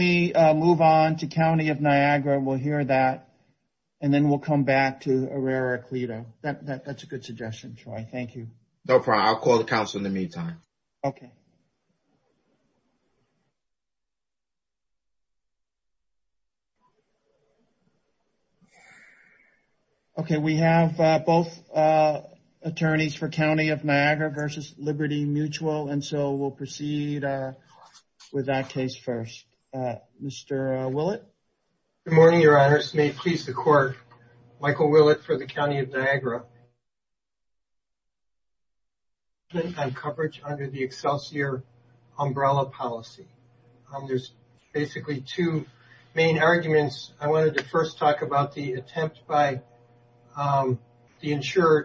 We have both attorneys for County of Niagara v. Liberty Mutual, and so we'll proceed with our case first. Mr. Willett. Good morning, your honors. May it please the court, Michael Willett for the County of Niagara. On coverage under the Excelsior umbrella policy, there's basically two main arguments. I wanted to first talk about the attempt by the insurer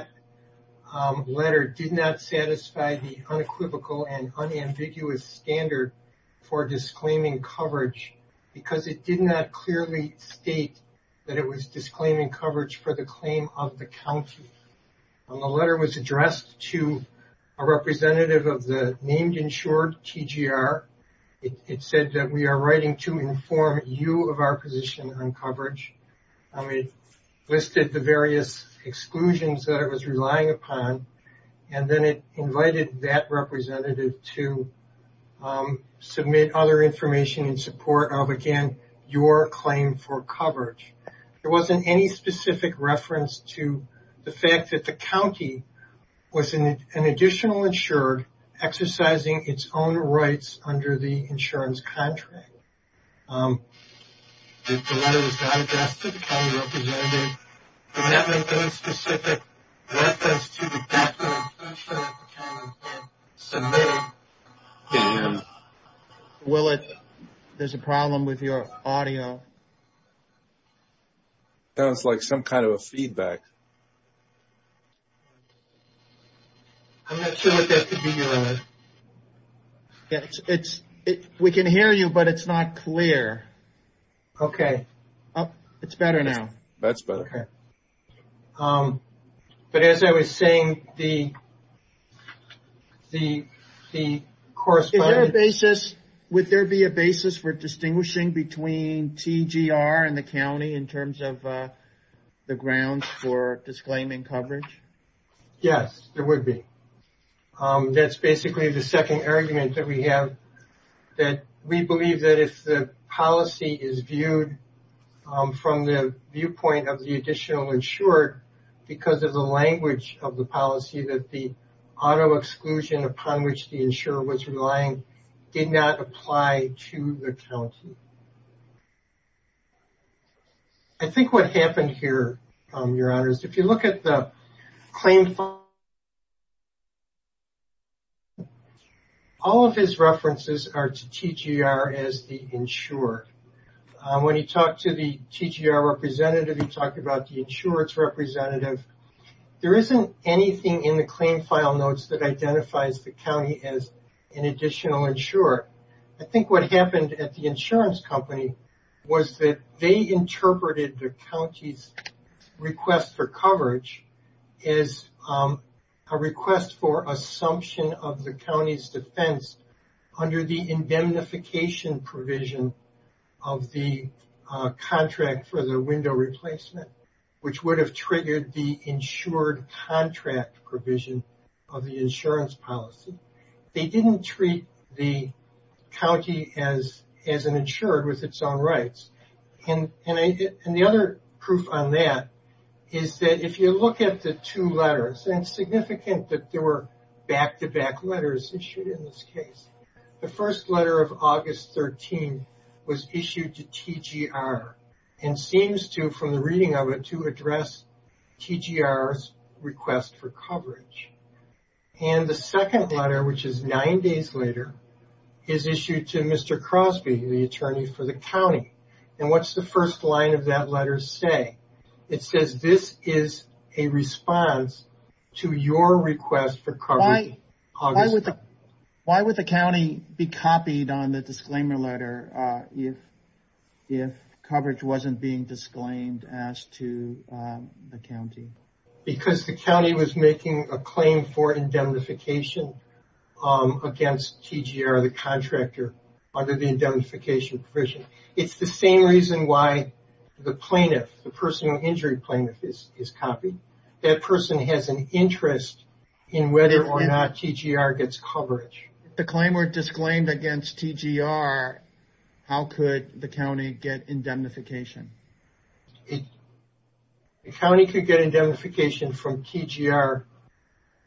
to letter did not satisfy the unequivocal and unambiguous standard for disclaiming coverage, because it did not clearly state that it was disclaiming coverage for the claim of the county. The letter was addressed to a representative of the named insured TGR. It said that we are writing to inform you of our position on coverage. It listed the various exclusions that it was relying upon, and then it invited that representative to submit other information in support of, again, your claim for coverage. There wasn't any specific reference to the fact that the county was an additional insured, exercising its own rights under the insurance contract. The letter was not addressed to the county representative. There wasn't any specific reference to the fact that an insured county representative submitted. Willett, there's a problem with your audio. Sounds like some kind of a feedback. I'm not sure what that could be, Willett. We can hear you, but it's not clear. Okay. It's better now. That's better. But as I was saying, the corresponding... Would there be a basis for distinguishing between TGR and the county in terms of the grounds for disclaiming coverage? Yes, there would be. That's basically the second argument that we have, that we believe that if the policy is viewed from the viewpoint of the additional insured, because of the language of the policy, that the auto exclusion upon which the insurer was relying did not apply to the county. I think what happened here, Your Honor, is if you look at the claim file, all of his references are to TGR as the insured. When he talked to the TGR representative, he talked about the insured representative. There isn't anything in the claim file notes that identifies the county as an additional insured. I think what happened at the insurance company was that they interpreted the county's request for coverage as a request for assumption of the county's defense under the indemnification provision. Of the contract for the window replacement, which would have triggered the insured contract provision of the insurance policy. They didn't treat the county as an insured with its own rights. And the other proof on that is that if you look at the two letters, and it's significant that there were back-to-back letters issued in this case. The first letter of August 13 was issued to TGR, and seems to, from the reading of it, to address TGR's request for coverage. And the second letter, which is nine days later, is issued to Mr. Crosby, the attorney for the county. And what's the first line of that letter say? It says, this is a response to your request for coverage, August 13. Why would the county be copied on the disclaimer letter if coverage wasn't being disclaimed as to the county? Because the county was making a claim for indemnification against TGR, the contractor, under the indemnification provision. It's the same reason why the plaintiff, the personal injury plaintiff, is copied. That person has an interest in whether or not TGR gets coverage. If the claim were disclaimed against TGR, how could the county get indemnification? The county could get indemnification from TGR.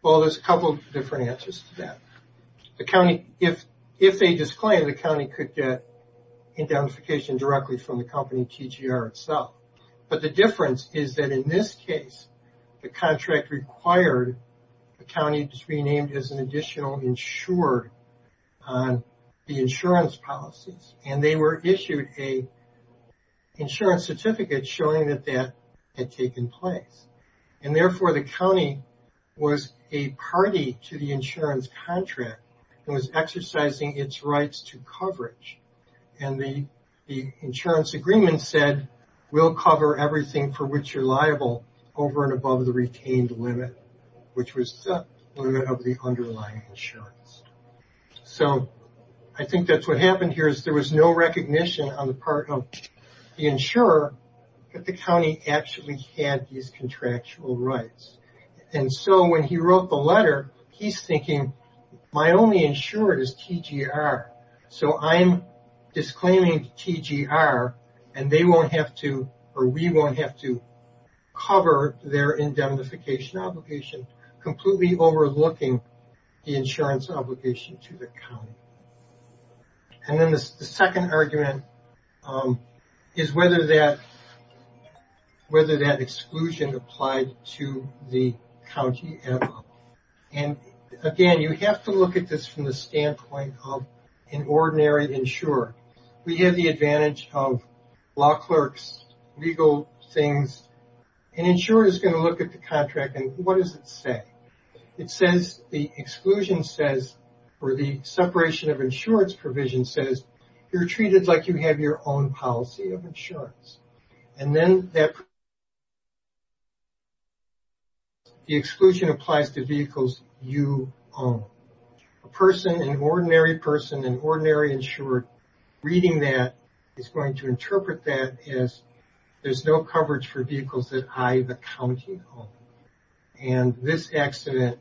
Well, there's a couple of different answers to that. The county, if they disclaim, the county could get indemnification directly from the company, TGR itself. But the difference is that in this case, the contract required the county to be renamed as an additional insured on the insurance policies. And they were issued an insurance certificate showing that that had taken place. And therefore, the county was a party to the insurance contract and was exercising its rights to coverage. And the insurance agreement said, we'll cover everything for which you're liable over and above the retained limit, which was the limit of the underlying insurance. So I think that's what happened here is there was no recognition on the part of the insurer that the county actually had these contractual rights. And so when he wrote the letter, he's thinking, my only insured is TGR. So I'm disclaiming TGR, and they won't have to, or we won't have to cover their indemnification obligation, completely overlooking the insurance obligation to the county. And then the second argument is whether that exclusion applied to the county at all. And again, you have to look at this from the standpoint of an ordinary insurer. We have the advantage of law clerks, legal things, an insurer is going to look at the contract and what does it say? It says the exclusion says, or the separation of insurance provision says, you're treated like you have your own policy of insurance. And then that, the exclusion applies to vehicles you own. A person, an ordinary person, an ordinary insured, reading that is going to interpret that as there's no coverage for vehicles that I, the county, own. And this accident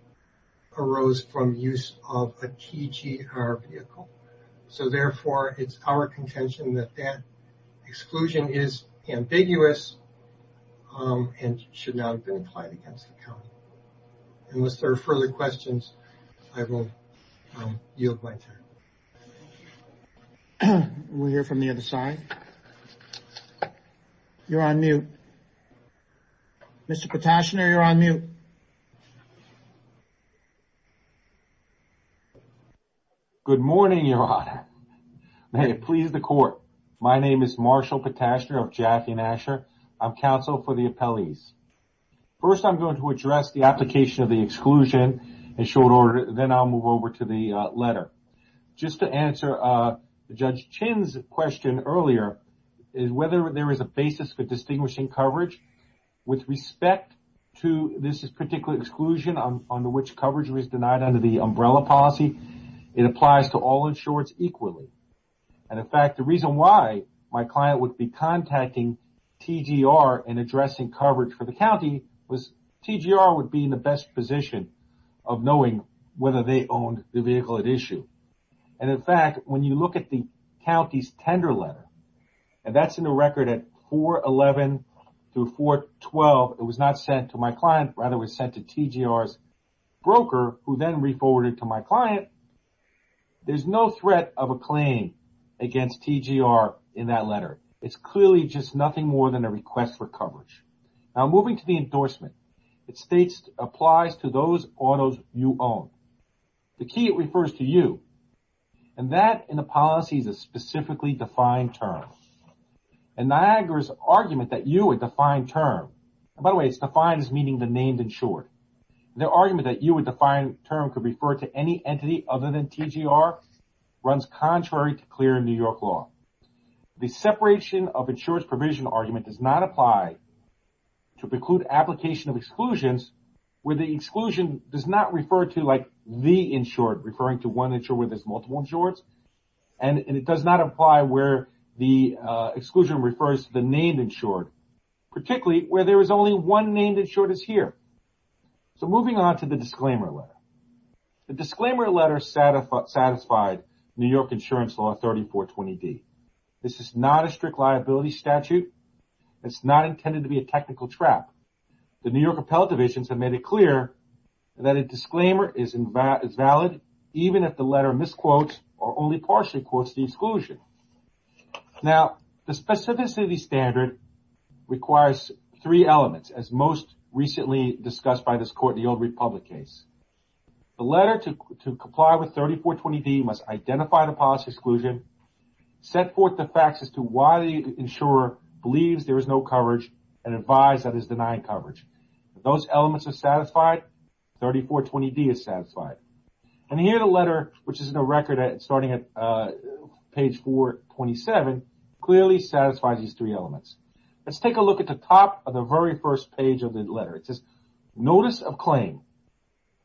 arose from use of a TGR vehicle. So therefore, it's our contention that that exclusion is ambiguous and should not have been applied against the county. Unless there are further questions, I will yield my time. We'll hear from the other side. You're on mute. Mr. Potashner, you're on mute. Good morning, Your Honor. May it please the court. My name is Marshall Potashner of Jackie and Asher. I'm counsel for the appellees. First, I'm going to address the application of the exclusion in short order, then I'll move over to the letter. Just to answer Judge Chin's question earlier, is whether there is a basis for distinguishing coverage with respect to this particular exclusion under which coverage was denied under the umbrella policy. It applies to all insureds equally. And in fact, the reason why my client would be contacting TGR and addressing coverage for the county was TGR would be in the best position of knowing whether they owned the vehicle at issue. And in fact, when you look at the county's tender letter, and that's in the record at 411 through 412, it was not sent to my client. Rather, it was sent to TGR's broker, who then reforwarded to my client. There's no threat of a claim against TGR in that letter. It's clearly just nothing more than a request for coverage. Now, moving to the endorsement, it states applies to those autos you own. The key, it refers to you, and that in the policy is a specifically defined term. And Niagara's argument that you would define term, and by the way, it's defined as meaning the named insured. The argument that you would define term could refer to any entity other than TGR runs contrary to clear in New York law. The separation of insurance provision argument does not apply to preclude application of exclusions where the exclusion does not refer to like the insured, referring to one insured where there's multiple insureds, and it does not apply where the exclusion refers to the named insured, particularly where there is only one named insured is here. So, moving on to the disclaimer letter, the disclaimer letter satisfied New York insurance law 3420D. This is not a strict liability statute. It's not intended to be a technical trap. The New York Appellate Divisions have made it clear that a disclaimer is valid even if the letter misquotes or only partially quotes the exclusion. Now, the specificity standard requires three elements, as most recently discussed by this court in the Old Republic case. The letter to comply with 3420D must identify the policy exclusion, set forth the facts as to why the insurer believes there is no coverage, and advise that it is denying coverage. Those elements are satisfied. 3420D is satisfied. And here the letter, which is in the record starting at page 427, clearly satisfies these three elements. Let's take a look at the top of the very first page of the letter. It says, Notice of Claim,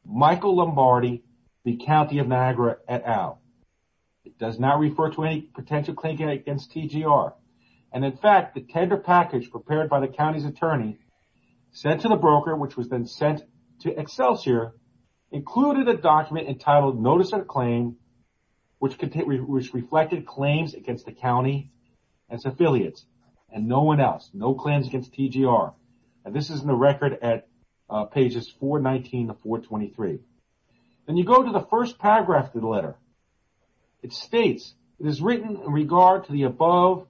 Michael Lombardi, the County of Niagara et al. It does not refer to any potential claim against TGR. And in fact, the tender package prepared by the county's attorney sent to the broker, which was then sent to Excelsior, included a document entitled Notice of Claim, which reflected claims against the county and its affiliates and no one else. No claims against TGR. And this is in the record at pages 419 to 423. Then you go to the first paragraph of the letter. It states, it is written in regard to the above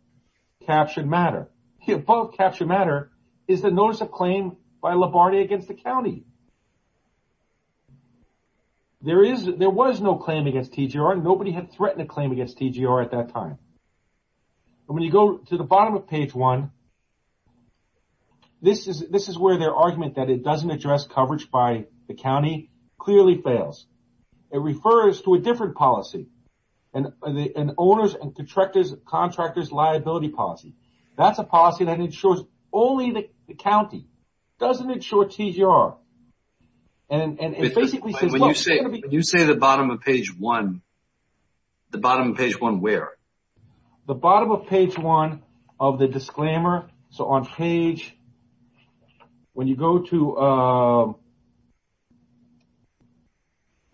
captured matter. The above captured matter is the Notice of Claim by Lombardi against the county. There was no claim against TGR. Nobody had threatened a claim against TGR at that time. And when you go to the bottom of page one, this is where their argument that it doesn't address coverage by the county clearly fails. It refers to a different policy, an owner's and contractor's liability policy. That's a policy that ensures only the county doesn't insure TGR. When you say the bottom of page one, the bottom of page one, where? The bottom of page one of the disclaimer. So on page, when you go to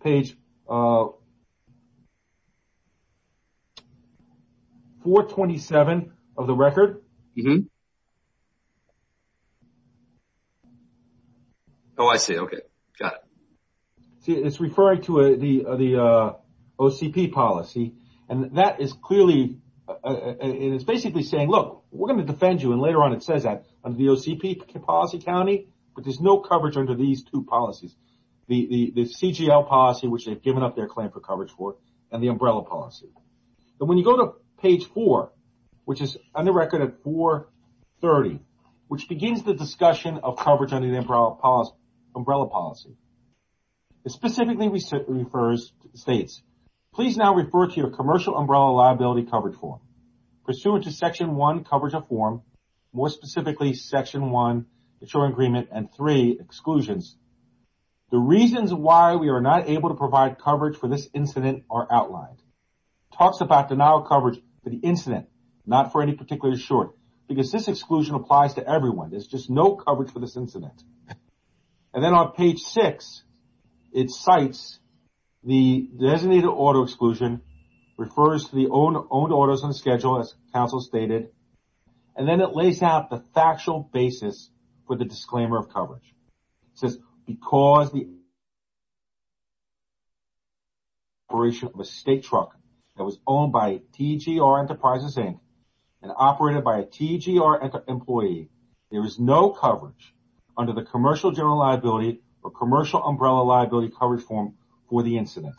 page 427 of the record. Oh, I see. OK, got it. See, it's referring to the OCP policy. And that is clearly, it's basically saying, look, we're going to defend you. And later on, it says that under the OCP policy county. But there's no coverage under these two policies. The CGL policy, which they've given up their claim for coverage for, and the umbrella policy. When you go to page four, which is on the record at 430, which begins the discussion of coverage under the umbrella policy. It specifically refers to the states. Please now refer to your commercial umbrella liability coverage form pursuant to section one coverage of form. More specifically, section one, the agreement and three exclusions. The reasons why we are not able to provide coverage for this incident are outlined. Talks about denial of coverage for the incident, not for any particular short. Because this exclusion applies to everyone. There's just no coverage for this incident. And then on page six, it cites the designated auto exclusion, refers to the owned autos on schedule, as counsel stated. And then it lays out the factual basis for the disclaimer of coverage. It says, because the operation of a state truck that was owned by TGR Enterprises Inc. and operated by a TGR employee, there is no coverage under the commercial general liability or commercial umbrella liability coverage form for the incident.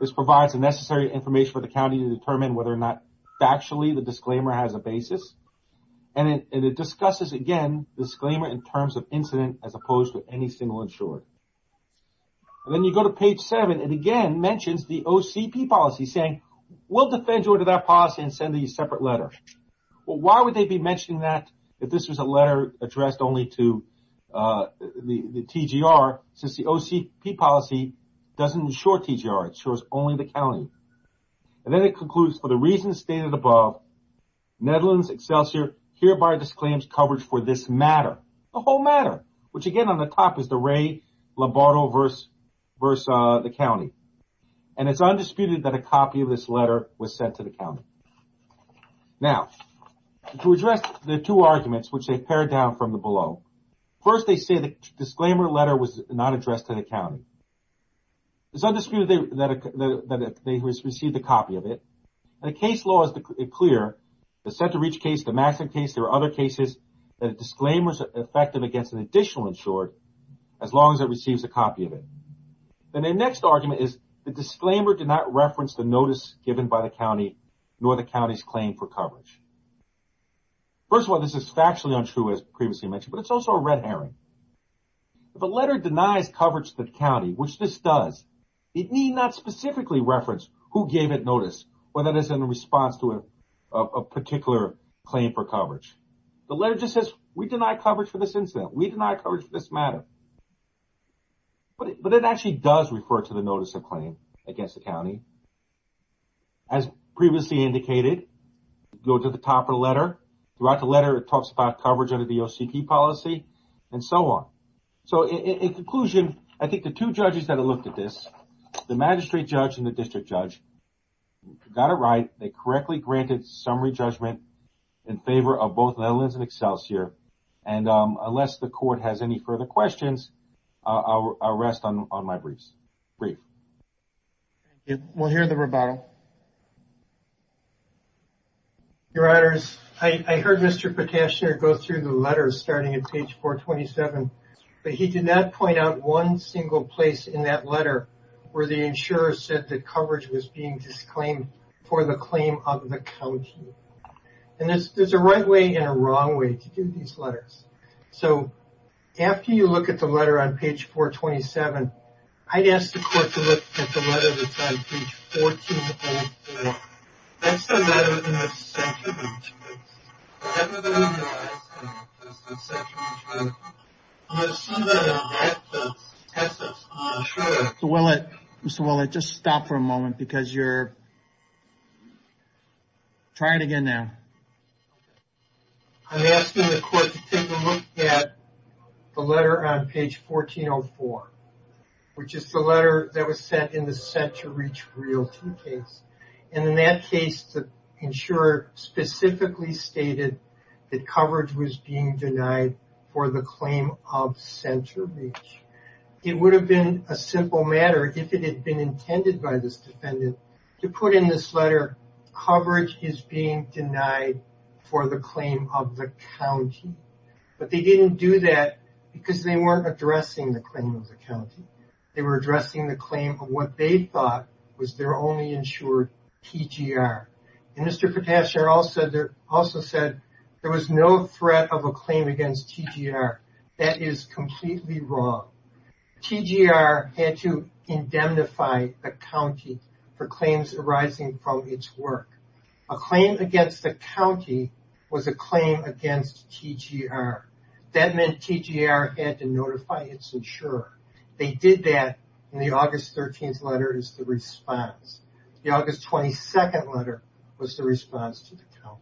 This provides the necessary information for the county to determine whether or not factually the disclaimer has a basis. And it discusses, again, disclaimer in terms of incident as opposed to any single insured. And then you go to page seven, it again mentions the OCP policy saying, we'll defend you under that policy and send you a separate letter. Well, why would they be mentioning that if this was a letter addressed only to the TGR, since the OCP policy doesn't insure TGR, it insures only the county. And then it concludes, for the reasons stated above, Netherlands Excelsior hereby disclaims coverage for this matter, the whole matter, which again on the top is the Ray Lombardo versus the county. And it's undisputed that a copy of this letter was sent to the county. Now, to address the two arguments, which they've pared down from the below, first they say the disclaimer letter was not addressed to the county. It's undisputed that they received a copy of it. And the case law is clear, the Center Reach case, the Maxim case, there are other cases that a disclaimer is effective against an additional insured, as long as it receives a copy of it. And the next argument is the disclaimer did not reference the notice given by the county, nor the county's claim for coverage. First of all, this is factually untrue, as previously mentioned, but it's also a red herring. If a letter denies coverage to the county, which this does, it need not specifically reference who gave it notice, whether it's in response to a particular claim for coverage. The letter just says, we deny coverage for this incident, we deny coverage for this matter. But it actually does refer to the notice of claim against the county. As previously indicated, go to the top of the letter, throughout the letter, it talks about coverage under the OCP policy, and so on. So, in conclusion, I think the two judges that have looked at this, the magistrate judge and the district judge, got it right, they correctly granted summary judgment in favor of both Netherlands and Excelsior. And unless the court has any further questions, I'll rest on my briefs. Thank you. We'll hear the rebuttal. Your Honors, I heard Mr. Petashner go through the letters starting at page 427, but he did not point out one single place in that letter where the insurer said that coverage was being disclaimed for the claim of the county. And there's a right way and a wrong way to do these letters. So, after you look at the letter on page 427, I'd ask the court to look at the letter that's on page 1404. That's the letter in the second page. The letter that I'm going to ask you about is the second page letter. I'm going to assume that it'll help to test us. Sure. Mr. Willett, just stop for a moment, because you're... Try it again now. I'm asking the court to take a look at the letter on page 1404, which is the letter that was sent in the Center Reach Realty case. And in that case, the insurer specifically stated that coverage was being denied for the claim of Center Reach. It would have been a simple matter if it had been intended by this defendant to put in this letter, coverage is being denied for the claim of the county. But they didn't do that because they weren't addressing the claim of the county. They were addressing the claim of what they thought was their only insured TGR. And Mr. Potashner also said there was no threat of a claim against TGR. That is completely wrong. TGR had to indemnify a county for claims arising from its work. A claim against a county was a claim against TGR. That meant TGR had to notify its insurer. They did that in the August 13th letter is the response. The August 22nd letter was the response to the county.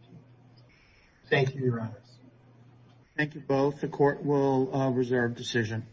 Thank you, Your Honors. Thank you both. The court will reserve decision.